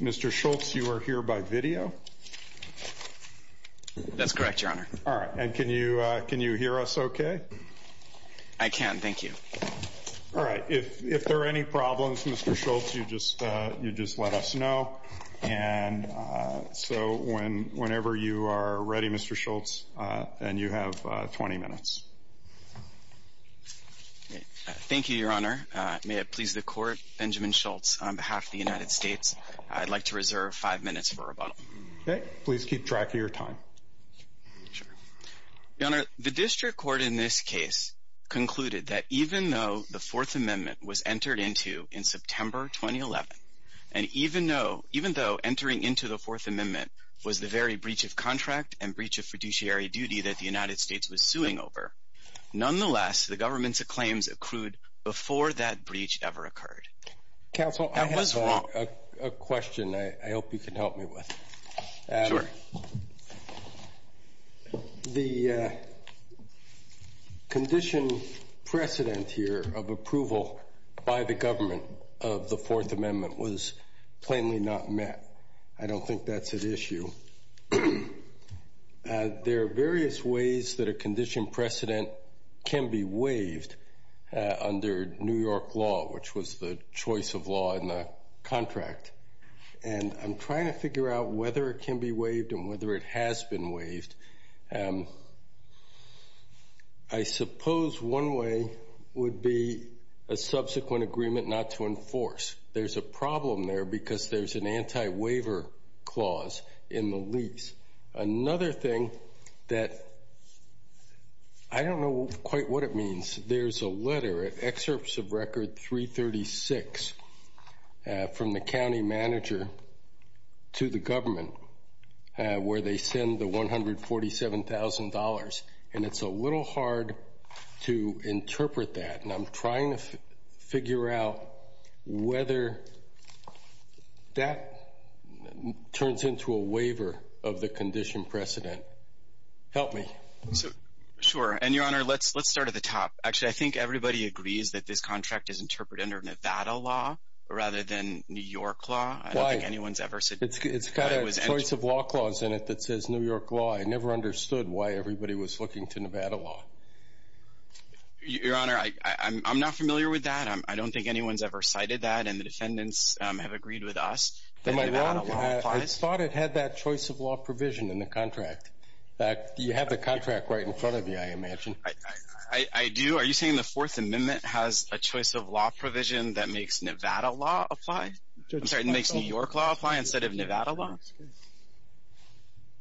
Mr. Schultz you are here by video that's correct your honor all right and can you can you hear us okay I can thank you all right if if there are any problems mr. Schultz you just you just let us know and so when whenever you are ready mr. Schultz and you have 20 minutes thank you your honor may it please the court Benjamin Schultz on behalf of the United States I'd like to reserve five minutes for rebuttal okay please keep track of your time sure your honor the district court in this case concluded that even though the fourth amendment was entered into in September 2011 and even though even though entering into the fourth amendment was the very breach of contract and breach of fiduciary duty that the United States was suing over nonetheless the government's claims accrued before that breach ever occurred counsel I have a question I hope you can help me with sure the condition precedent here of approval by the government of the fourth amendment was plainly not met I don't think that's an issue there are various ways that a condition precedent can be waived under New York law which was the choice of law in the contract and I'm trying to figure out whether it can be waived and whether it has been waived I suppose one way would be a subsequent agreement not to enforce there's a problem there because there's an anti-waiver clause in the lease another thing that I don't know quite what it means there's a letter at excerpts of record 336 from the county manager to the government where they send the 147 thousand dollars and it's a little hard to interpret that and I'm trying to whether that turns into a waiver of the condition precedent help me sure and your honor let's let's start at the top actually I think everybody agrees that this contract is interpreted under Nevada law rather than New York law I don't think anyone's ever said it's got a choice of law clause in it that says New York law I never understood why everybody was looking to Nevada law your honor I I'm not familiar with that I don't think anyone's ever cited that and the defendants have agreed with us I thought it had that choice of law provision in the contract you have the contract right in front of you I imagine I I do are you saying the fourth amendment has a choice of law provision that makes Nevada law apply I'm sorry it makes New York law apply instead of Nevada law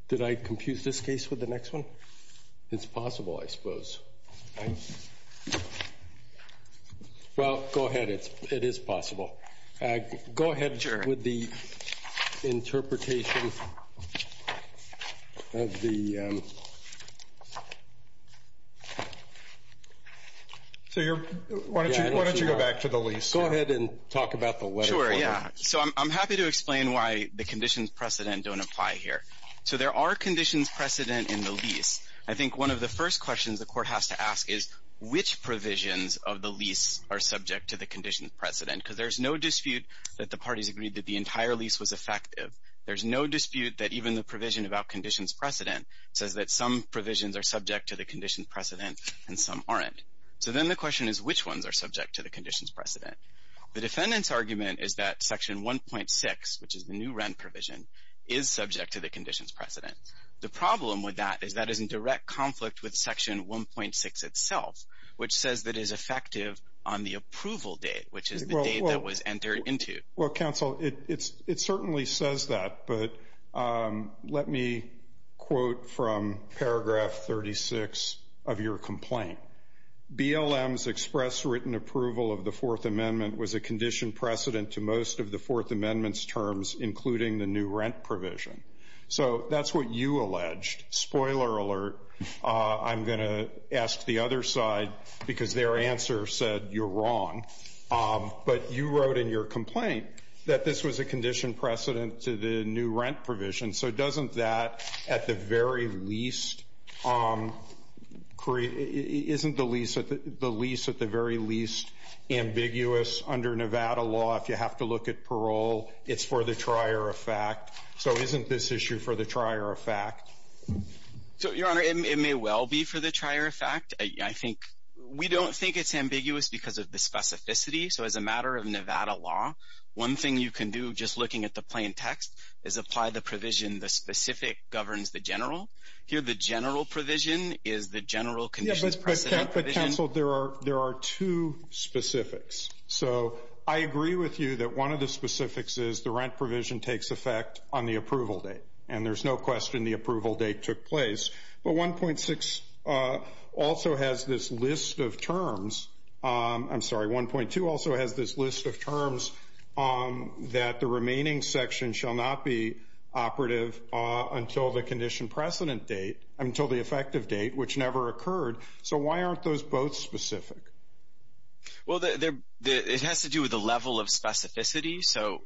did I confuse this case with the next one it's possible I suppose I well go ahead it's it is possible go ahead with the interpretation of the so you're why don't you why don't you go back to the lease go ahead and talk about the way sure yeah so I'm happy to explain why the conditions precedent don't apply here so there are conditions precedent in the lease I think one of the first questions the which provisions of the lease are subject to the conditions precedent because there's no dispute that the parties agreed that the entire lease was effective there's no dispute that even the provision about conditions precedent says that some provisions are subject to the conditions precedent and some aren't so then the question is which ones are subject to the conditions precedent the defendant's argument is that section 1.6 which is the new rent provision is subject to section 1.6 itself which says that is effective on the approval date which is the date that was entered into well counsel it's it certainly says that but let me quote from paragraph 36 of your complaint BLM's express written approval of the fourth amendment was a condition precedent to most of the fourth amendment's terms including the new rent provision so that's what you alleged spoiler alert I'm going to ask the other side because their answer said you're wrong but you wrote in your complaint that this was a condition precedent to the new rent provision so doesn't that at the very least create isn't the lease at the lease at the very least ambiguous under Nevada law if you have to look at parole it's for the trier of fact so isn't this issue for the trier of fact so your honor it may well be for the trier of fact I think we don't think it's ambiguous because of the specificity so as a matter of Nevada law one thing you can do just looking at the plain text is apply the provision the specific governs the general here the general provision is the general conditions but counsel there are there are two specifics so I agree with you that one of the specifics is the rent provision takes effect on the approval date and there's no question the approval date took place but 1.6 also has this list of terms I'm sorry 1.2 also has this list of terms that the remaining section shall not be operative until the condition precedent date until the effective date which never occurred so why aren't those both specific well there it has to do with the level of specificity so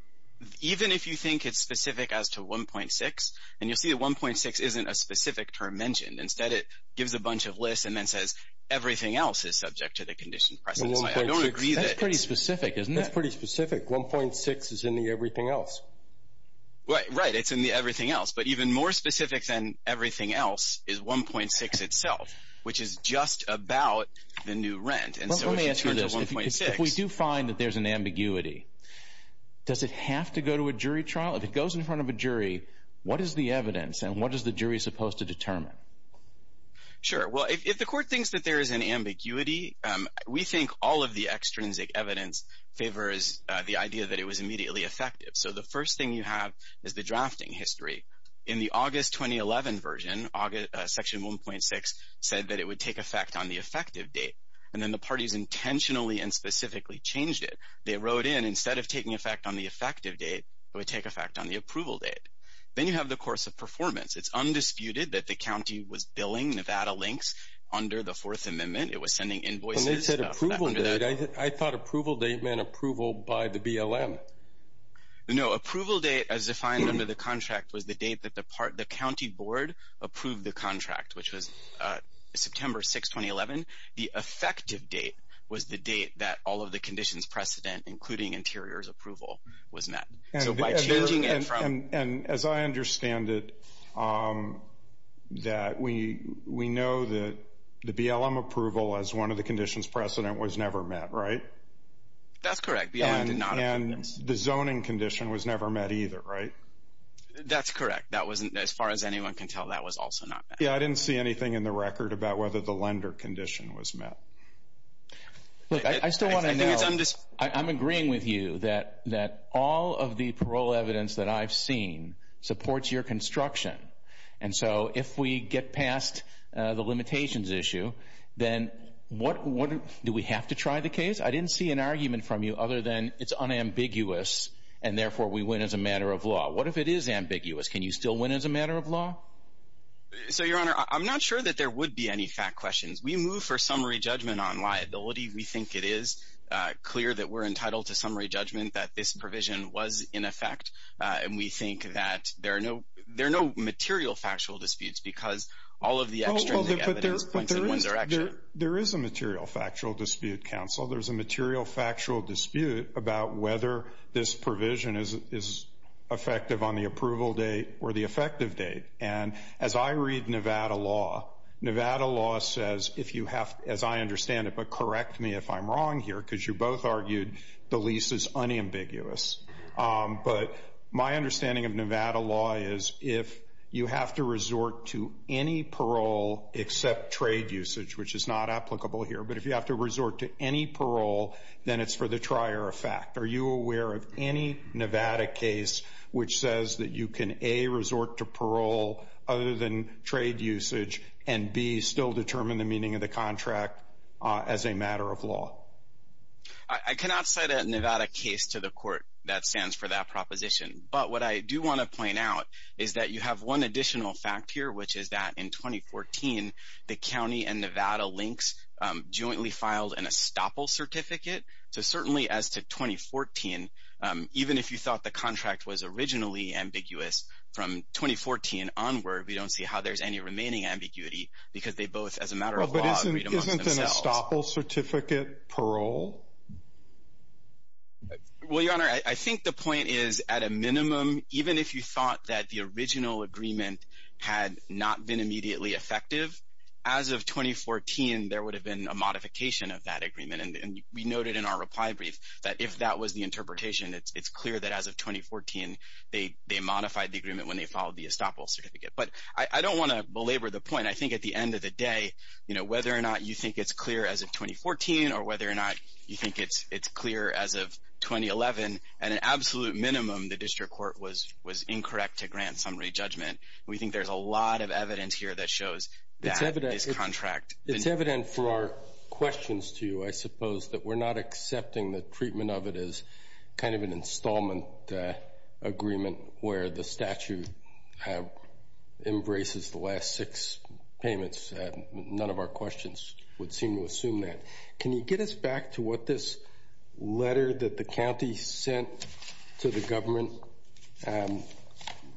even if you think it's specific as to 1.6 and you'll see that 1.6 isn't a specific term mentioned instead it gives a bunch of lists and then says everything else is subject to the condition precedent I don't agree that's pretty specific isn't that pretty specific 1.6 is in the everything else right right it's in the everything else but even more specific than everything else is 1.6 itself which is just about the new rent and so let me ask you this if we do find that there's an to go to a jury trial if it goes in front of a jury what is the evidence and what is the jury supposed to determine sure well if the court thinks that there is an ambiguity we think all of the extrinsic evidence favors the idea that it was immediately effective so the first thing you have is the drafting history in the august 2011 version august section 1.6 said that it would take effect on the effective date and then the parties intentionally and specifically changed it they would take effect on the approval date then you have the course of performance it's undisputed that the county was billing nevada links under the fourth amendment it was sending invoices i thought approval date meant approval by the blm no approval date as defined under the contract was the date that the part the county board approved the contract which was uh september 6 2011 the effective date was the date that all of the conditions precedent including interior's so and and as i understand it um that we we know that the blm approval as one of the conditions precedent was never met right that's correct and the zoning condition was never met either right that's correct that wasn't as far as anyone can tell that was also not yeah i didn't see anything in the record about whether the lender condition was met look i still want to know i'm just i'm of the parole evidence that i've seen supports your construction and so if we get past uh the limitations issue then what what do we have to try the case i didn't see an argument from you other than it's unambiguous and therefore we win as a matter of law what if it is ambiguous can you still win as a matter of law so your honor i'm not sure that there would be any fact questions we move for summary judgment on liability we think it is uh clear that we're entitled to summary judgment that this provision was in effect uh and we think that there are no there are no material factual disputes because all of the external evidence points in one direction there is a material factual dispute counsel there's a material factual dispute about whether this provision is is effective on the approval date or the effective date and as i read nevada law nevada law says if you have as i understand it but correct me if i'm wrong here because you both argued the lease is unambiguous but my understanding of nevada law is if you have to resort to any parole except trade usage which is not applicable here but if you have to resort to any parole then it's for the trier effect are you aware of any nevada case which says that you can a resort to parole other than trade usage and b still determine the meaning of the contract uh as a nevada case to the court that stands for that proposition but what i do want to point out is that you have one additional fact here which is that in 2014 the county and nevada links um jointly filed an estoppel certificate so certainly as to 2014 um even if you thought the contract was originally ambiguous from 2014 onward we don't see how there's any remaining ambiguity because but isn't an estoppel certificate parole well your honor i think the point is at a minimum even if you thought that the original agreement had not been immediately effective as of 2014 there would have been a modification of that agreement and we noted in our reply brief that if that was the interpretation it's clear that as of 2014 they they modified the agreement when they followed the estoppel certificate but i don't want to belabor the point i think at the end of the day you know whether or not you think it's clear as of 2014 or whether or not you think it's it's clear as of 2011 at an absolute minimum the district court was was incorrect to grant summary judgment we think there's a lot of evidence here that shows that this contract it's evident for our questions to you i suppose that we're not accepting the treatment of it as kind of an installment agreement where the statute uh embraces the last six payments none of our questions would seem to assume that can you get us back to what this letter that the county sent to the government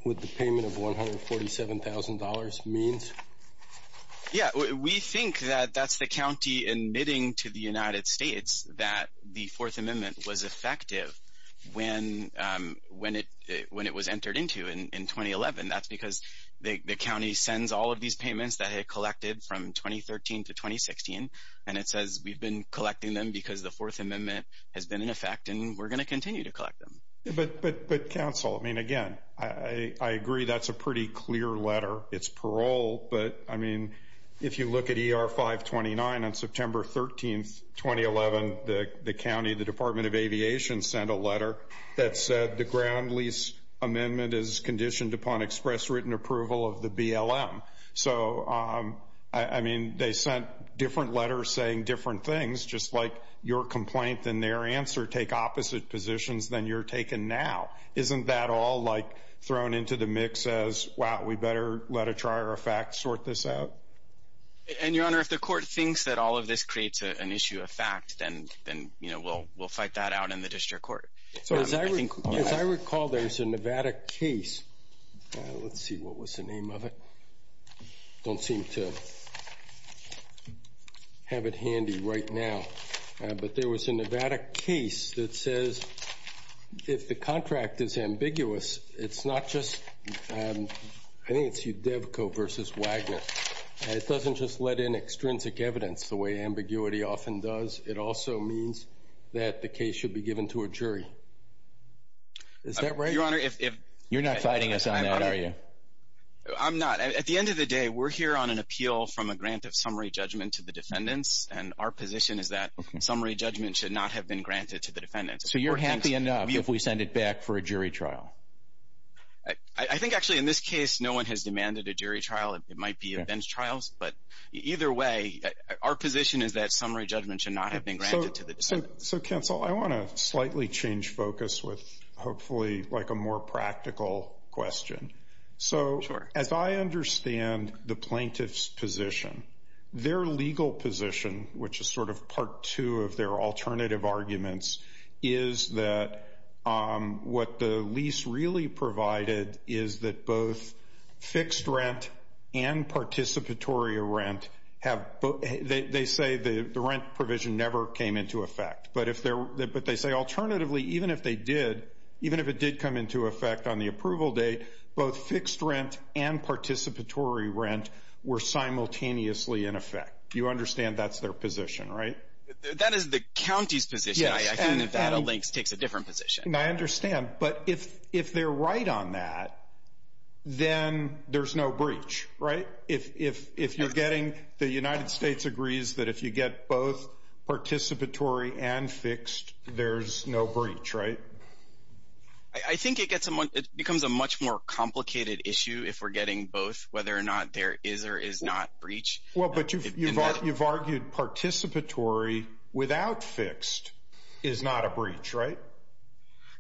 with the payment of 147 000 means yeah we think that that's the county admitting to the united that's because the county sends all of these payments that it collected from 2013 to 2016 and it says we've been collecting them because the fourth amendment has been in effect and we're going to continue to collect them but but but counsel i mean again i i agree that's a pretty clear letter it's parole but i mean if you look at er 529 on september 13th 2011 the the county the department of aviation sent a letter that said the ground lease amendment is conditioned upon express written approval of the blm so um i mean they sent different letters saying different things just like your complaint than their answer take opposite positions than you're taken now isn't that all like thrown into the mix as wow we better let a trier of fact sort this out and your honor if the court thinks that all of this creates an issue of fact then then you know we'll we'll fight that out in the district court so as i think as i recall there's a nevada case let's see what was the name of it don't seem to have it handy right now but there was a nevada case that says if the contract is ambiguous it's not just um i think it's udevco versus wagner it doesn't just let in extrinsic evidence the way ambiguity often does it also means that the case should be given to a jury is that right your honor if you're not fighting us on that are you i'm not at the end of the day we're here on an appeal from a grant of summary judgment to the defendants and our position is that summary judgment should not have been granted to the defendants so you're happy enough if we send it back for a jury trial i i think actually in this case no one has demanded a jury trial it might be a bench trials but either way our position is that summary judgment should not have been granted to the so council i want to slightly change focus with hopefully like a more practical question so as i understand the plaintiff's position their legal position which is sort of part two of their alternative arguments is that um what the lease really provided is that both fixed rent and participatory rent have they say the the rent provision never came into effect but if they're but they say alternatively even if they did even if it did come into effect on the approval date both fixed rent and participatory rent were simultaneously in effect you understand that's their position right that is the county's position i think that a links takes a different position i understand but if if right on that then there's no breach right if if if you're getting the united states agrees that if you get both participatory and fixed there's no breach right i think it gets someone it becomes a much more complicated issue if we're getting both whether or not there is or is not breach well but you've you've argued participatory without fixed is not a breach right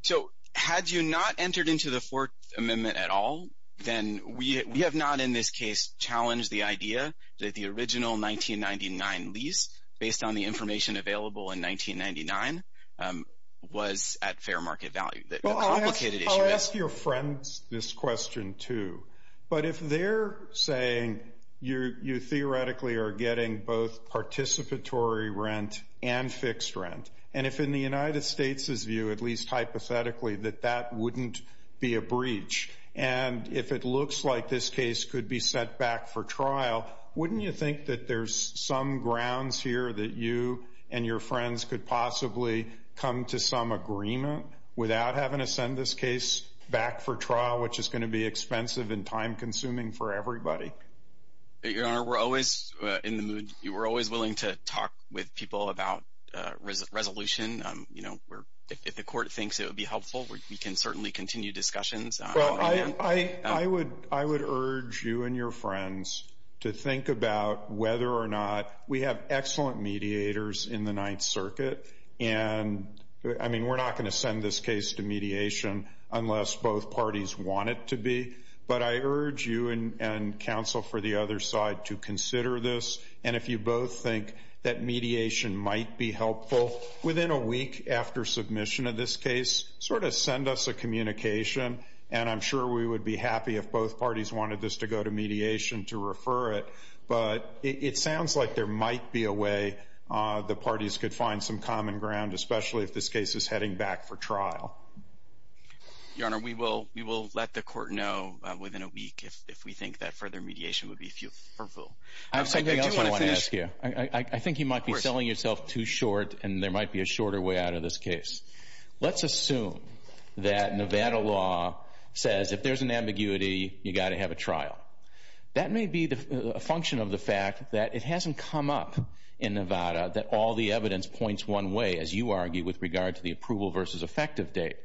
so had you not entered into the fourth amendment at all then we we have not in this case challenged the idea that the original 1999 lease based on the information available in 1999 um was at fair market value that complicated i'll ask your friends this question too but if they're saying you you theoretically are getting both participatory rent and fixed rent and if in view at least hypothetically that that wouldn't be a breach and if it looks like this case could be sent back for trial wouldn't you think that there's some grounds here that you and your friends could possibly come to some agreement without having to send this case back for trial which is going to be expensive and time consuming for everybody your honor we're always in the mood you were always willing to talk with people about uh resolution um you know we're if the court thinks it would be helpful we can certainly continue discussions well i i i would i would urge you and your friends to think about whether or not we have excellent mediators in the ninth circuit and i mean we're not going to send this case to mediation unless both parties want it to that mediation might be helpful within a week after submission of this case sort of send us a communication and i'm sure we would be happy if both parties wanted this to go to mediation to refer it but it sounds like there might be a way uh the parties could find some common ground especially if this case is heading back for trial your honor we will we will let the court know within a week if we think that further mediation would be fearful i have something else i want to ask you i i think you might be selling yourself too short and there might be a shorter way out of this case let's assume that nevada law says if there's an ambiguity you got to have a trial that may be the function of the fact that it hasn't come up in nevada that all the evidence points one way as you argue with regard to the approval versus effective date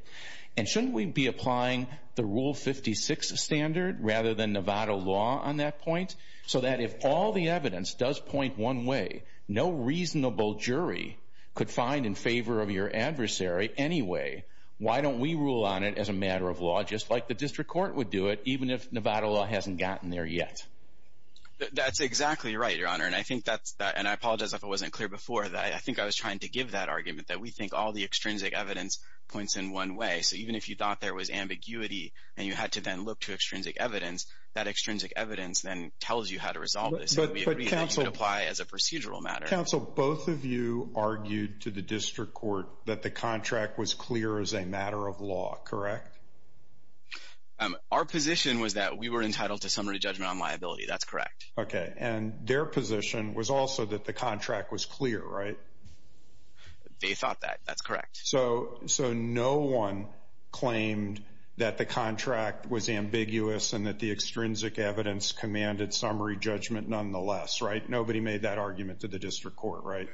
and shouldn't we be applying the rule 56 standard rather than nevada law on that point so that if all the evidence does point one way no reasonable jury could find in favor of your adversary anyway why don't we rule on it as a matter of law just like the district court would do it even if nevada law hasn't gotten there yet that's exactly right your honor and i think that's that and i apologize if it wasn't clear before that i think i was trying to give that argument that we think all the extrinsic evidence points in one way so even if you thought there was ambiguity and you had to then look to extrinsic evidence that extrinsic evidence then tells you how to resolve this apply as a procedural matter counsel both of you argued to the district court that the contract was clear as a matter of law correct um our position was that we were entitled to summary judgment on liability that's correct okay and their position was also that the contract was clear right they thought that that's correct so so no one claimed that the contract was ambiguous and that the extrinsic evidence commanded summary judgment nonetheless right nobody made that argument to the district court right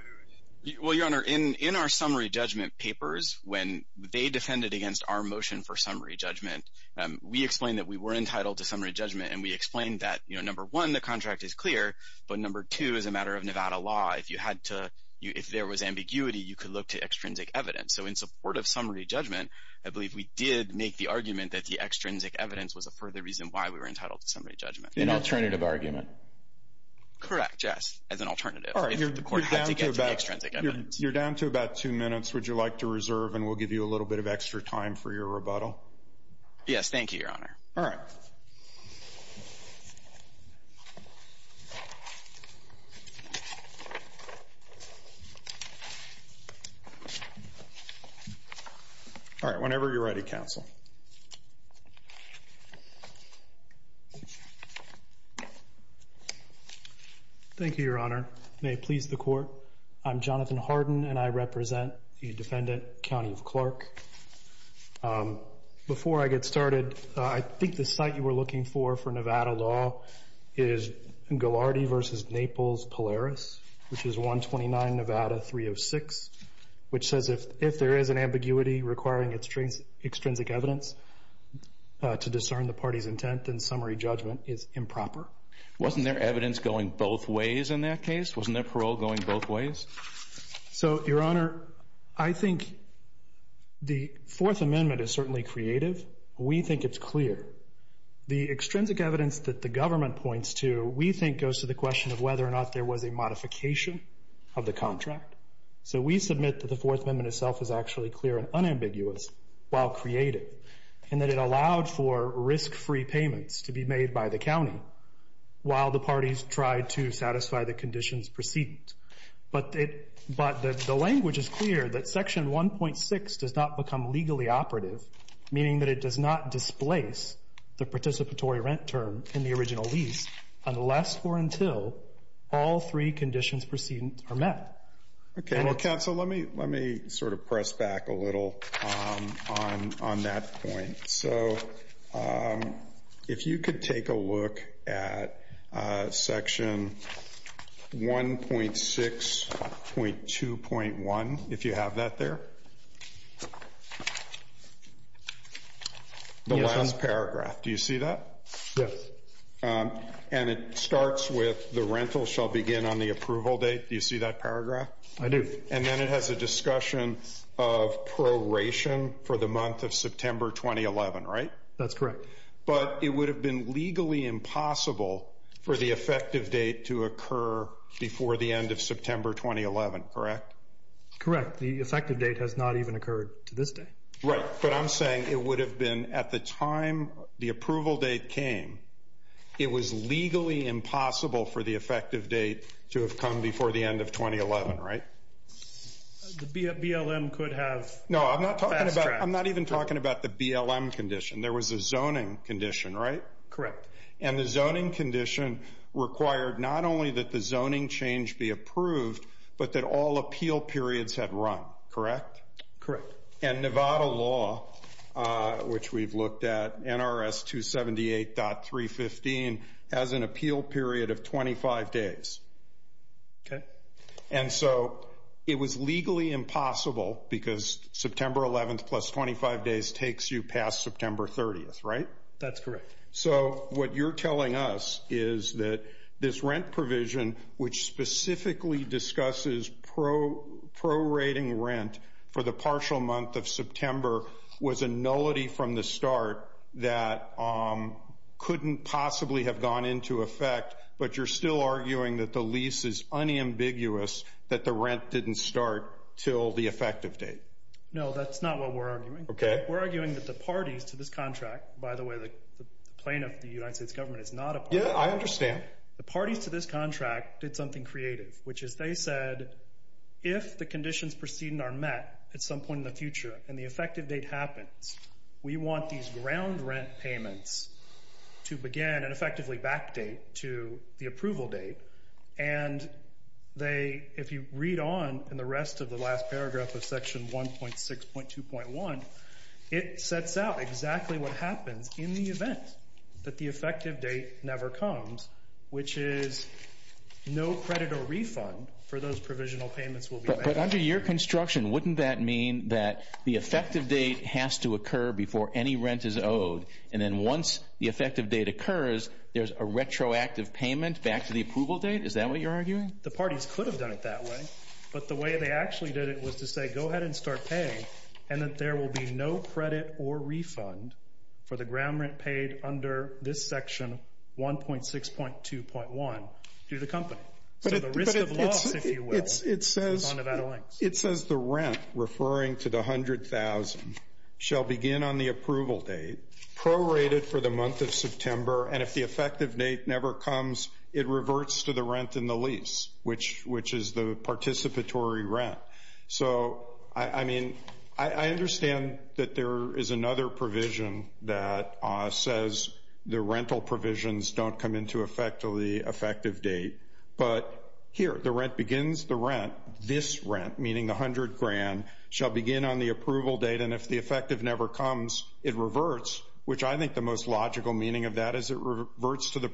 well your honor in in our summary judgment papers when they defended against our motion for summary judgment um we explained that we were entitled to summary judgment and we explained that you know number one the contract is clear but number two is a matter of nevada law if you had to if there was ambiguity you could look to extrinsic evidence so in support of summary judgment i believe we did make the argument that the extrinsic evidence was a further reason why we were entitled to summary judgment an alternative argument correct yes as an alternative all right you're down to about two minutes would you like to reserve and we'll give you a little bit of extra time for your rebuttal yes thank you your honor all right all right whenever you're ready counsel thank you your honor may it please the court i'm jonathan harden and i represent the defendant county of clark um before i get started i think the site you were looking for for nevada law is gilardi versus naples polaris which is 129 nevada 306 which says if if there is an ambiguity requiring extrinsic evidence to discern the party's intent then summary judgment is improper wasn't there evidence going both ways in that case wasn't there parole going both ways so your honor i think the fourth amendment is certainly creative we think it's clear the extrinsic evidence that the government points to we think goes to the question of whether or not there was a modification of the contract so we submit that the fourth amendment itself is actually clear and unambiguous while creative and that it allowed for risk-free payments to be made by the the language is clear that section 1.6 does not become legally operative meaning that it does not displace the participatory rent term in the original lease unless or until all three conditions proceedings are met okay well counsel let me let me sort of press back a little um on on that point so if you could take a look at section 1.6.2.1 if you have that there the last paragraph do you see that yes and it starts with the rental shall begin on the approval date do you see that paragraph i do and then it has a discussion of proration for the month of 2011 right that's correct but it would have been legally impossible for the effective date to occur before the end of september 2011 correct correct the effective date has not even occurred to this day right but i'm saying it would have been at the time the approval date came it was legally impossible for the effective date to have come before the end of 2011 right the blm could have no i'm not talking about i'm not even talking about the blm condition there was a zoning condition right correct and the zoning condition required not only that the zoning change be approved but that all appeal periods had run correct correct and nevada law uh which we've looked at nrs 278.3 15 has an appeal period of 25 days okay and so it was legally impossible because september 11th plus 25 days takes you past september 30th right that's correct so what you're telling us is that this rent provision which specifically discusses pro prorating rent for the partial month of september was a nullity from the start that um couldn't possibly have gone into effect but you're still arguing that the lease is unambiguous that the rent didn't start till the effective date no that's not what we're arguing okay we're arguing that the parties to this contract by the way the plaintiff the united states government is not a yeah i understand the parties to this contract did something creative which is they said if the conditions preceding are met at some point in the future and the effective date happens we want these ground rent payments to begin and effectively backdate to the approval date and they if you read on in the rest of the last paragraph of section 1.6.2.1 it sets out exactly what happens in the event that the effective date never comes which is no credit or refund for those provisional payments will be but under your construction wouldn't that mean that the effective date has to occur before any rent is owed and then once the effective date occurs there's a retroactive payment back to the approval date is that what you're arguing the parties could have done it that way but the way they actually did it was to say go ahead and start paying and that there will be no credit or refund for the ground rent paid under this section 1.6.2.1 through the company so the risk of loss if you will it's it says on nevada links it says the rent referring to the hundred thousand shall begin on the approval date prorated for the month of september and if the participatory rent so i i mean i i understand that there is another provision that uh says the rental provisions don't come into effect till the effective date but here the rent begins the rent this rent meaning the hundred grand shall begin on the approval date and if the effective never comes it reverts which i think the most logical meaning of that is it reverts to the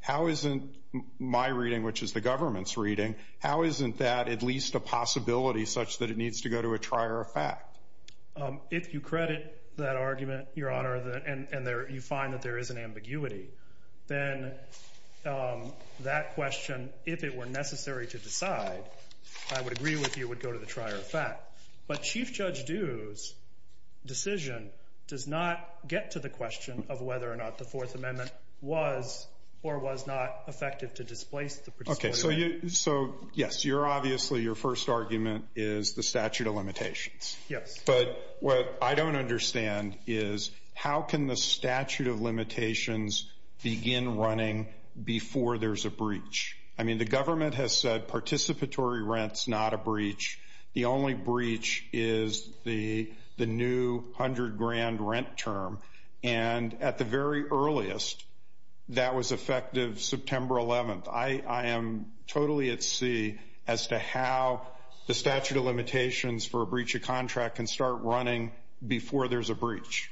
how isn't my reading which is the government's reading how isn't that at least a possibility such that it needs to go to a trier of fact um if you credit that argument your honor the and and there you find that there is an ambiguity then um that question if it were necessary to decide i would agree with you would go to the trier of fact but chief judge dues decision does not get to the question of whether or not the fourth amendment was or was not effective to displace the participatory so yes you're obviously your first argument is the statute of limitations yes but what i don't understand is how can the statute of limitations begin running before there's a breach i mean the government has said participatory rents not a breach the only breach is the the new hundred grand rent term and at the very earliest that was effective september 11th i i am totally at sea as to how the statute of limitations for a breach of contract can start running before there's a breach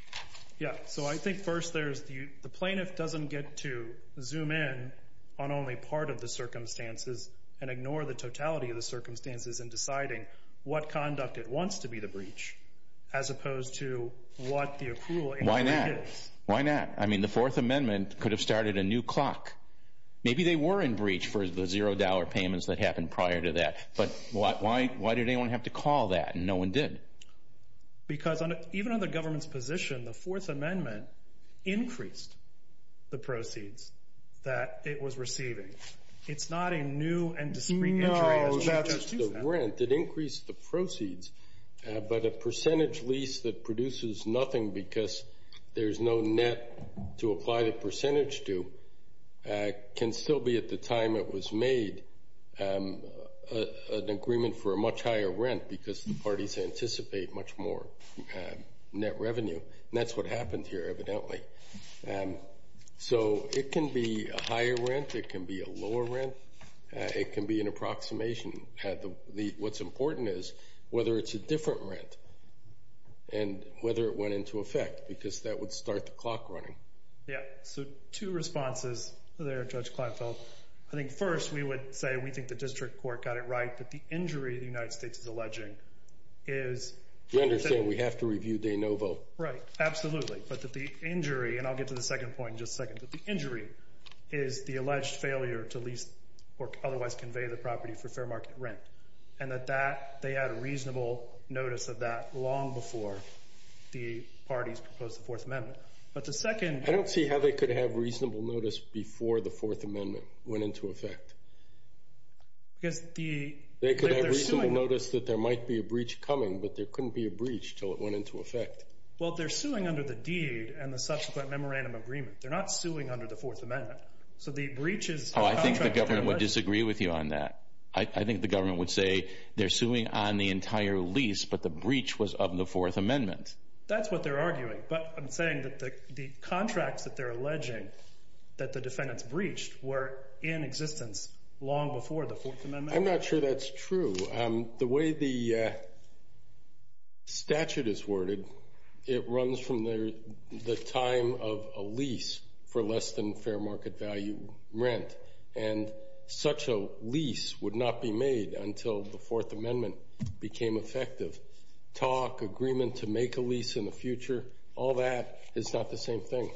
yeah so i think first there's the the plaintiff doesn't get to zoom in on only part of the circumstances and ignore the totality of the circumstances in deciding what conduct it wants to be the breach as opposed to what the accrual why not why not i mean the fourth amendment could have started a new clock maybe they were in breach for the zero dollar payments that happened prior to that but why why did anyone have to call that and no one did because even on the government's position the fourth amendment increased the proceeds that it was receiving it's not a new and discrete no that's just the rent it increased the proceeds but a percentage lease that produces nothing because there's no net to apply the percentage to can still be at the time it was made an agreement for a much higher rent because the parties anticipate much more net revenue that's what happened here evidently and so it can be a rent it can be a lower rent it can be an approximation at the what's important is whether it's a different rent and whether it went into effect because that would start the clock running yeah so two responses there judge kleinfeld i think first we would say we think the district court got it right but the injury the united states is alleging is you understand we have to review de novo right absolutely but that the injury and i'll get to the second point that the injury is the alleged failure to lease or otherwise convey the property for fair market rent and that that they had a reasonable notice of that long before the parties proposed the fourth amendment but the second i don't see how they could have reasonable notice before the fourth amendment went into effect because the they could have reasonable notice that there might be a breach coming but there couldn't be a breach till it went into effect well they're suing under the and the subsequent memorandum agreement they're not suing under the fourth amendment so the breach is oh i think the government would disagree with you on that i think the government would say they're suing on the entire lease but the breach was of the fourth amendment that's what they're arguing but i'm saying that the the contracts that they're alleging that the defendants breached were in existence long before the fourth amendment i'm not sure that's true um the way the statute is worded it runs from the the time of a lease for less than fair market value rent and such a lease would not be made until the fourth amendment became effective talk agreement to make a lease in the future all that is not the same thing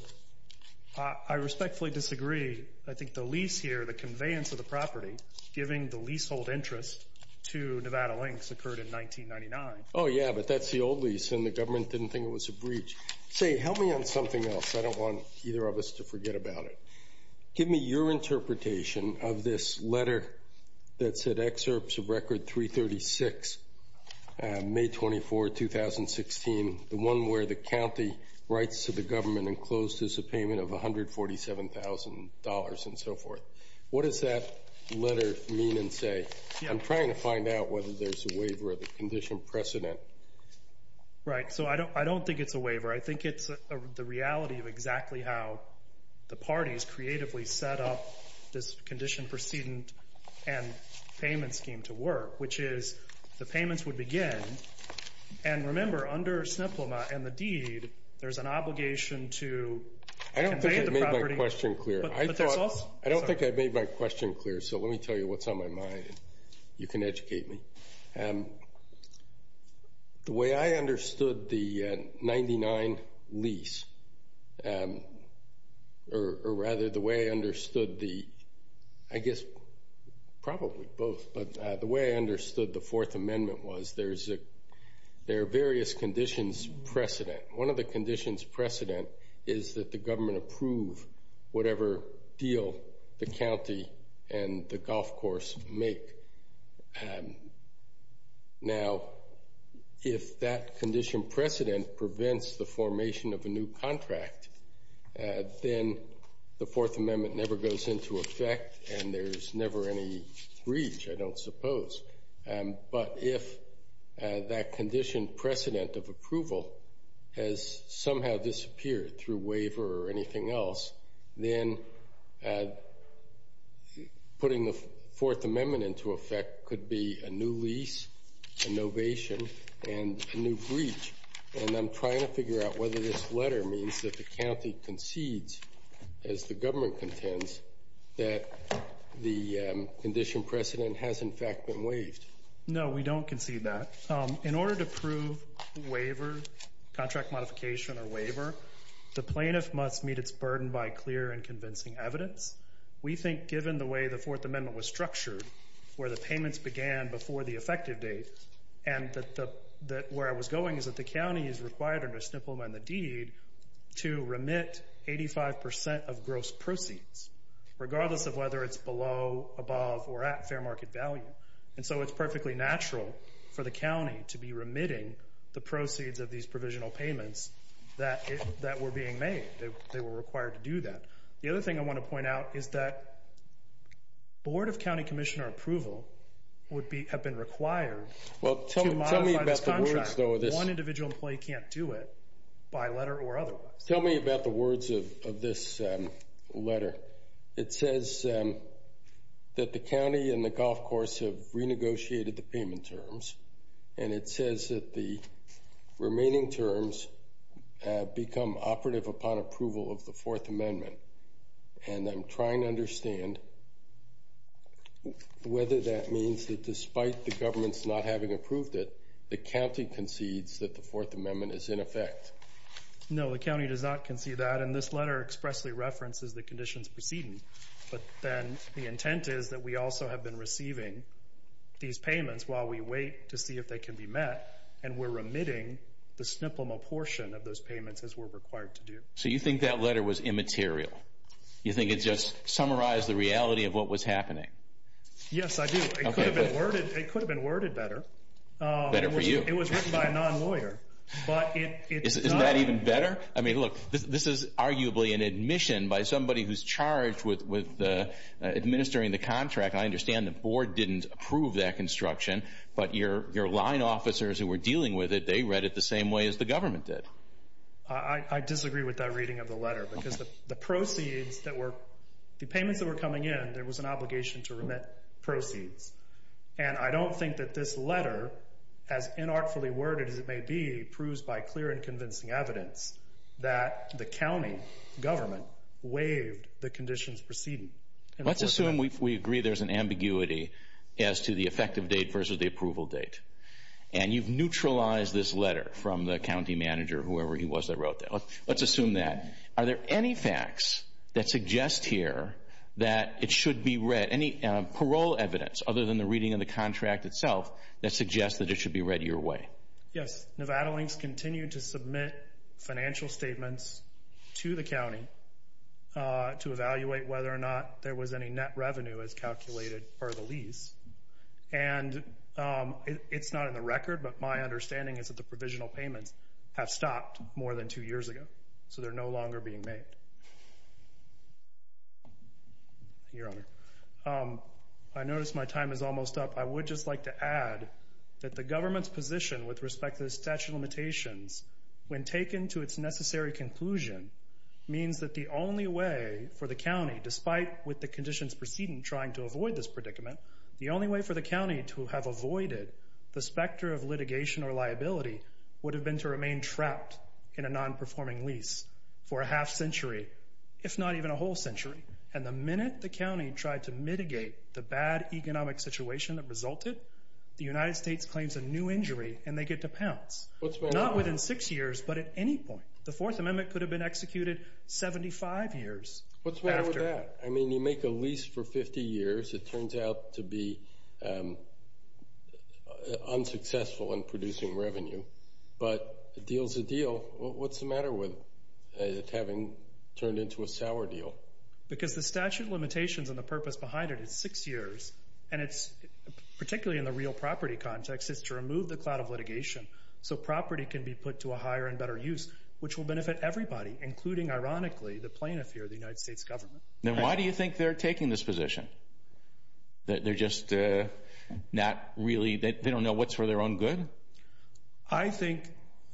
i respectfully disagree i think the lease here the conveyance of the property giving the leasehold interest to nevada links occurred in the old lease and the government didn't think it was a breach say help me on something else i don't want either of us to forget about it give me your interpretation of this letter that said excerpts of record 336 may 24 2016 the one where the county writes to the government and closed as a payment of 147 000 and so forth what does that letter mean and say i'm trying to find out whether there's a right so i don't i don't think it's a waiver i think it's the reality of exactly how the party's creatively set up this condition proceeding and payment scheme to work which is the payments would begin and remember under sniplema and the deed there's an obligation to i don't think it made my question clear i thought i don't think i made my question clear so let me tell you what's you can educate me the way i understood the 99 lease or rather the way i understood the i guess probably both but the way i understood the fourth amendment was there's a there are various conditions precedent one of the conditions precedent is that the government approve whatever deal the county and the golf course make now if that condition precedent prevents the formation of a new contract then the fourth amendment never goes into effect and there's never any breach i don't suppose but if that condition precedent of approval has somehow disappeared through waiver or anything else then putting the fourth amendment into effect could be a new lease innovation and a new breach and i'm trying to figure out whether this letter means that the county concedes as the government contends that the condition precedent has in fact been waived no we don't concede that in order to prove waiver contract modification or waiver the plaintiff must meet its burden by clear and convincing evidence we think given the way the fourth amendment was structured where the payments began before the effective date and that the that where i was going is that the county is required under snippleman the deed to remit 85 percent of gross proceeds regardless of whether it's below above or at fair market value and so it's perfectly natural for the county to be remitting the proceeds of these provisional payments that that were being made they were required to do that the other thing i want to point out is that board of county commissioner approval would be have been required well tell me about this contract one individual employee can't do it by letter or otherwise tell me about the words of of this letter it says that the county and the golf course have renegotiated the payment terms and it says that the remaining terms become operative upon approval of the fourth amendment and i'm trying to understand whether that means that despite the government's not having approved it the county concedes that the fourth amendment is in effect no the county does not concede that and this letter expressly references the conditions proceeding but then the intent is that we also have been receiving these payments while we wait to see if they can be met and we're remitting the snippleman portion of those payments as we're required to do so you think that letter was immaterial you think it just summarized the reality of what was happening yes i do it could have been worded it could have been worded better better for you it was written by a non-lawyer but it's not even better i mean look this is arguably an admission by somebody who's charged with with the administering the contract i understand the board didn't approve that construction but your your line officers who were dealing with it they read it the same way as the government did i i disagree with that reading of the letter because the proceeds that were the payments that were coming in there was an obligation to remit proceeds and i don't think that this letter as inartfully worded as it may be proves by clear and convincing evidence that the county government waived the conditions proceeding let's assume we agree there's an ambiguity as to the effective date versus the approval date and you've neutralized this letter from the county manager whoever he was that wrote that let's assume that are there any facts that suggest here that it should be read any parole evidence other than the reading of the contract itself that suggests that it should be read your way yes nevada links continue to submit financial statements to the county to evaluate whether or not there was any net revenue as calculated for the lease and it's not in the record but my understanding is that the provisional payments have stopped more than two years ago so they're no longer being made your honor i notice my time is almost up i would just like to add that the government's position with respect to the statute of limitations when taken to its necessary conclusion means that the only way for the county despite with the conditions proceeding trying to avoid this predicament the only way for the county to have avoided the specter of litigation or liability would have been to remain trapped in a non-performing lease for a half century if not even a whole century and the minute the county tried to mitigate the bad economic situation that resulted the united states claims a new injury and they get to pounce what's going on within six years but at any point the fourth amendment could have been executed 75 years what's wrong with that i mean you make a lease for 50 years it turns out to be unsuccessful in producing revenue but it deals a deal what's the matter with it having turned into a sour deal because the statute of limitations and the purpose behind it is six years and it's particularly in the real property context is to remove the cloud of litigation so property can be put to a higher and better use which will benefit everybody including ironically the plaintiff here the united states government then why do you think they're taking this position that they're just uh not really they don't know what's for their own good i think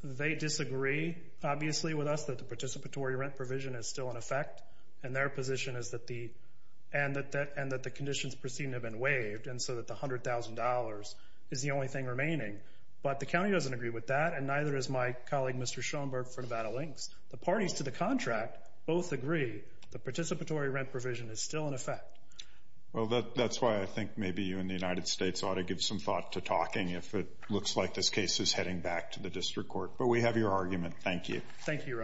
they disagree obviously with us that the participatory rent provision is still in effect and their position is that the and that that and that the conditions proceeding have been waived and so that the hundred thousand dollars is the only thing remaining but the county doesn't agree with that and neither is my colleague mr schoenberg for nevada lynx the parties to the contract both agree the participatory rent provision is still in effect well that that's why i think maybe you in the united states ought to give some thought to talking if it looks like this case is heading back to the district court but we have your argument thank you thank you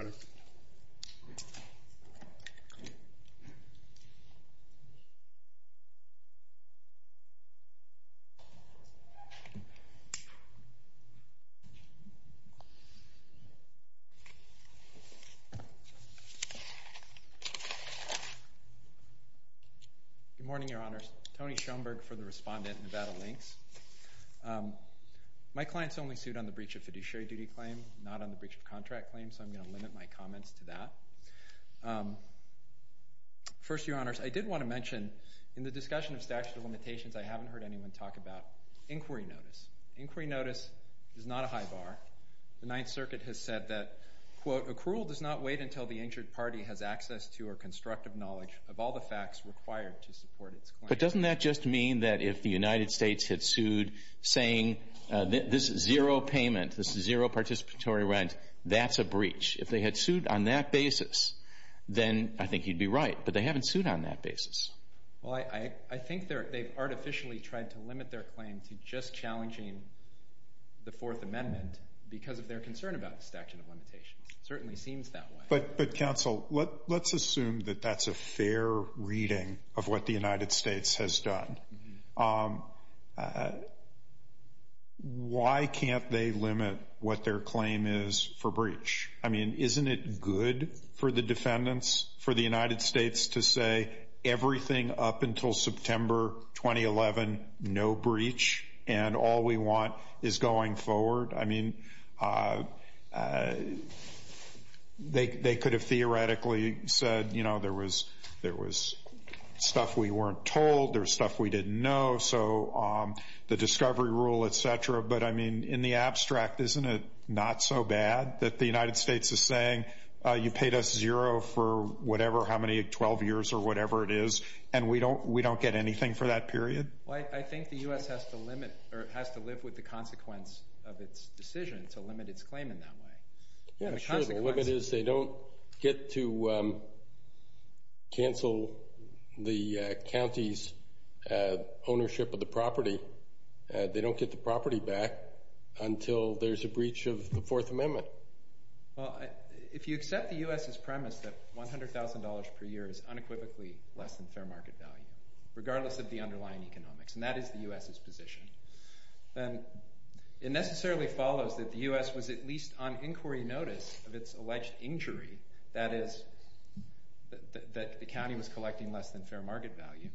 good morning your honors tony schoenberg for the respondent nevada lynx um my clients only suit on the breach of fiduciary duty claim not on the breach of contract claim so i'm going to limit my comments to that first your honors i did want to mention in the discussion of statute of limitations i haven't heard anyone talk about inquiry notice inquiry notice is not a high bar the ninth circuit has said that quote accrual does not wait until the injured party has access to or constructive knowledge of all the facts required to support its claim but doesn't that just mean that if the saying this is zero payment this is zero participatory rent that's a breach if they had sued on that basis then i think he'd be right but they haven't sued on that basis well i i think they're they've artificially tried to limit their claim to just challenging the fourth amendment because of their concern about the statute of limitations certainly seems that way but but counsel what let's assume that that's a fair reading of what united states has done um uh why can't they limit what their claim is for breach i mean isn't it good for the defendants for the united states to say everything up until september 2011 no breach and all we want is going forward i mean uh they they could have theoretically said you know there there was stuff we weren't told there's stuff we didn't know so um the discovery rule etc but i mean in the abstract isn't it not so bad that the united states is saying uh you paid us zero for whatever how many 12 years or whatever it is and we don't we don't get anything for that period well i think the u.s has to limit or it has to live with the consequence of its decision to limit its claim in that way yeah the limit is they don't get to um cancel the county's uh ownership of the property uh they don't get the property back until there's a breach of the fourth amendment well if you accept the u.s's premise that one hundred thousand dollars per year is unequivocally less than fair market value regardless of the underlying economics and that is the u.s's position then it necessarily follows that the u.s was at least on inquiry notice of its alleged injury that is that the county was collecting less than fair market value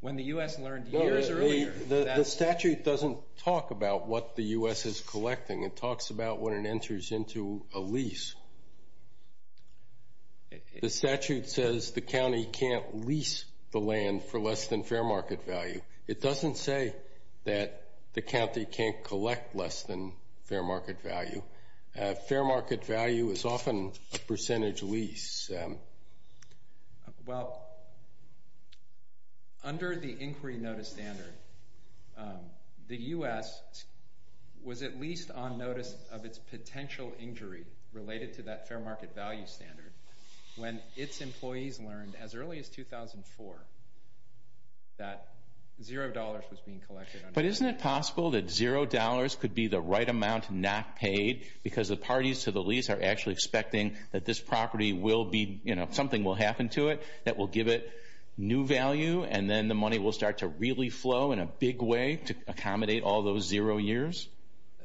when the u.s learned years earlier the statute doesn't talk about what the u.s is collecting it talks about when it enters into a lease the statute says the county can't lease the land for less than fair market value it doesn't say that the county can't collect less than fair market value fair market value is often a percentage lease well under the inquiry notice standard the u.s was at least on notice of its potential injury related to that fair market value standard when its employees learned as early as 2004 that zero dollars was being collected but isn't it possible that zero dollars could be the right amount not paid because the parties to the lease are actually expecting that this property will be you know something will happen to it that will give it new value and then the money will start to really flow in a big way to accommodate all those zero years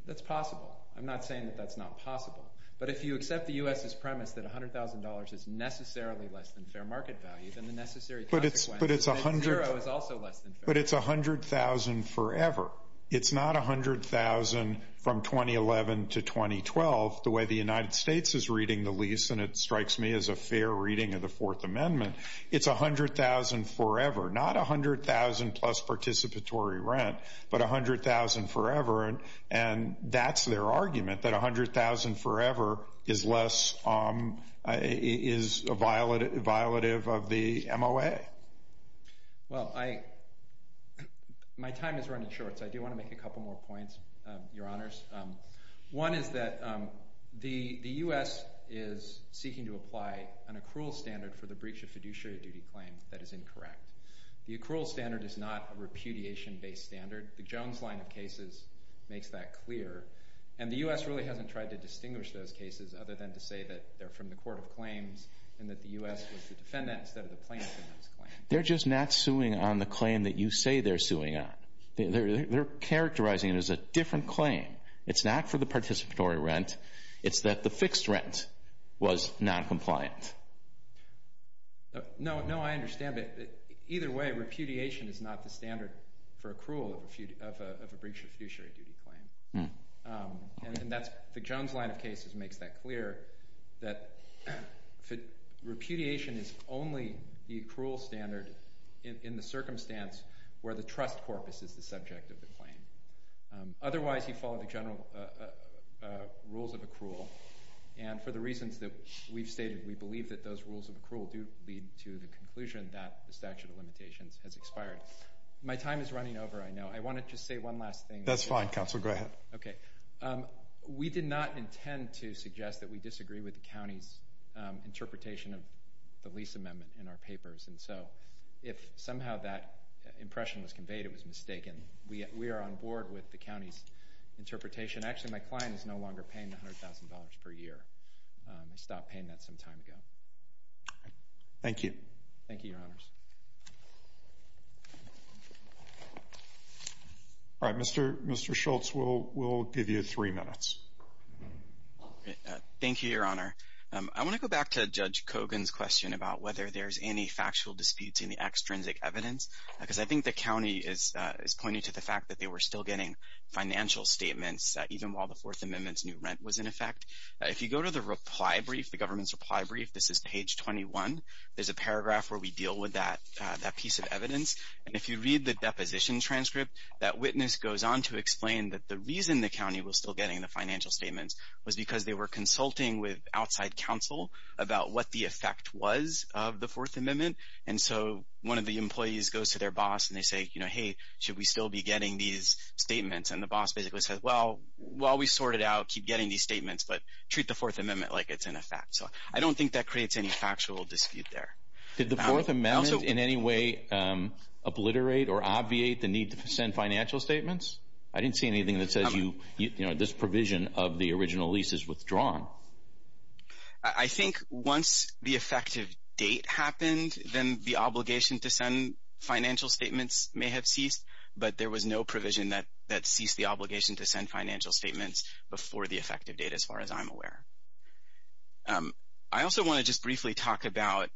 that's possible i'm not saying that that's not possible but if you accept the premise that a hundred thousand dollars is necessarily less than fair market value than the necessary but it's but it's a hundred zero is also less than but it's a hundred thousand forever it's not a hundred thousand from 2011 to 2012 the way the united states is reading the lease and it strikes me as a fair reading of the fourth amendment it's a hundred thousand forever not a hundred thousand plus participatory rent but a hundred thousand forever and and that's their is less um is a violet violative of the moa well i my time is running short so i do want to make a couple more points uh your honors um one is that um the the u.s is seeking to apply an accrual standard for the breach of fiduciary duty claim that is incorrect the accrual standard is not a repudiation based standard the jones line of cases makes that clear and the u.s really hasn't tried to distinguish those cases other than to say that they're from the court of claims and that the u.s was the defendant instead of the plaintiff in those claims they're just not suing on the claim that you say they're suing on they're they're characterizing it as a different claim it's not for the participatory rent it's that the fixed rent was non-compliant no no i understand but either way repudiation is not the standard for accrual of a few of a breach of fiduciary duty claim and that's the jones line of cases makes that clear that repudiation is only the accrual standard in the circumstance where the trust corpus is the subject of the claim otherwise you follow the general rules of accrual and for the reasons that we've stated we believe that those rules of accrual do lead to the conclusion that the statute of limitations has expired my time is running over i know i want to just say one last thing that's fine council go ahead okay um we did not intend to suggest that we disagree with the county's interpretation of the lease amendment in our papers and so if somehow that impression was conveyed it was mistaken we we are on board with the county's interpretation actually my client is no longer paying a hundred thousand dollars per year they stopped paying that some time ago thank you thank you your honors all right mr mr schultz we'll we'll give you three minutes thank you your honor um i want to go back to judge cogan's question about whether there's any factual disputes in the extrinsic evidence because i think the county is uh is pointing to the fact that they were still getting financial statements even while the fourth amendment's new rent was in effect if you go to the reply brief the government's reply brief this is page 21 there's a paragraph where we deal with that that piece of evidence and if you read the deposition transcript that witness goes on to explain that the reason the county was still getting the financial statements was because they were consulting with outside counsel about what the effect was of the fourth amendment and so one of the employees goes to their boss and they say you know hey should we still be getting these statements and the boss basically says well while we sort it out keep getting these statements but treat the fourth amendment like it's in effect so i don't think that creates any factual dispute there did the fourth amendment in any way um obliterate or obviate the need to send financial statements i didn't see anything that says you you know this provision of the original lease is withdrawn i think once the effective date happened then the there was no provision that that ceased the obligation to send financial statements before the effective date as far as i'm aware i also want to just briefly talk about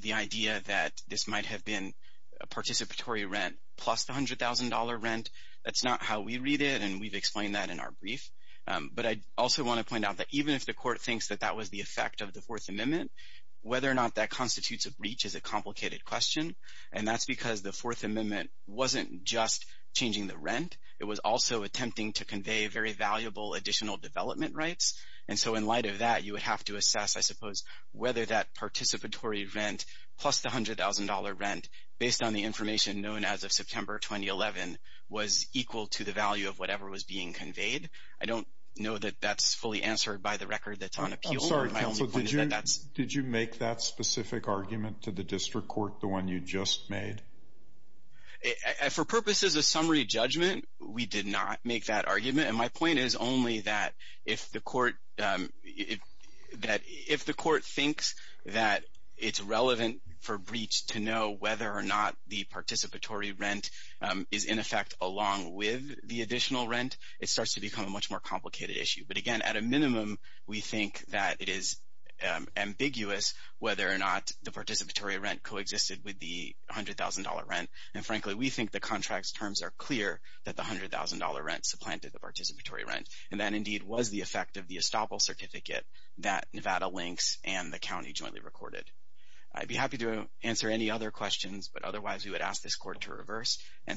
the idea that this might have been a participatory rent plus the hundred thousand dollar rent that's not how we read it and we've explained that in our brief but i also want to point out that even if the court thinks that that was the effect of the fourth amendment whether or not that constitutes a breach is a complicated question and that's because the fourth amendment wasn't just changing the rent it was also attempting to convey very valuable additional development rights and so in light of that you would have to assess i suppose whether that participatory rent plus the hundred thousand dollar rent based on the information known as of september 2011 was equal to the value of whatever was being conveyed i don't know that that's fully answered by the record i'm sorry did you make that specific argument to the district court the one you just made for purposes of summary judgment we did not make that argument and my point is only that if the court um if that if the court thinks that it's relevant for breach to know whether or not the participatory rent is in effect along with the additional rent it starts to become a much more complicated issue but again at a minimum we think that it is ambiguous whether or not the participatory rent coexisted with the hundred thousand dollar rent and frankly we think the contract's terms are clear that the hundred thousand dollar rent supplanted the participatory rent and that indeed was the effect of the estoppel certificate that nevada links and the county jointly recorded i'd be happy to answer any other questions but otherwise we would ask this court to all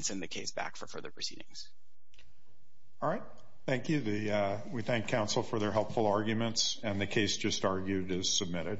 right thank you the uh we thank council for their helpful arguments and the case just argued is submitted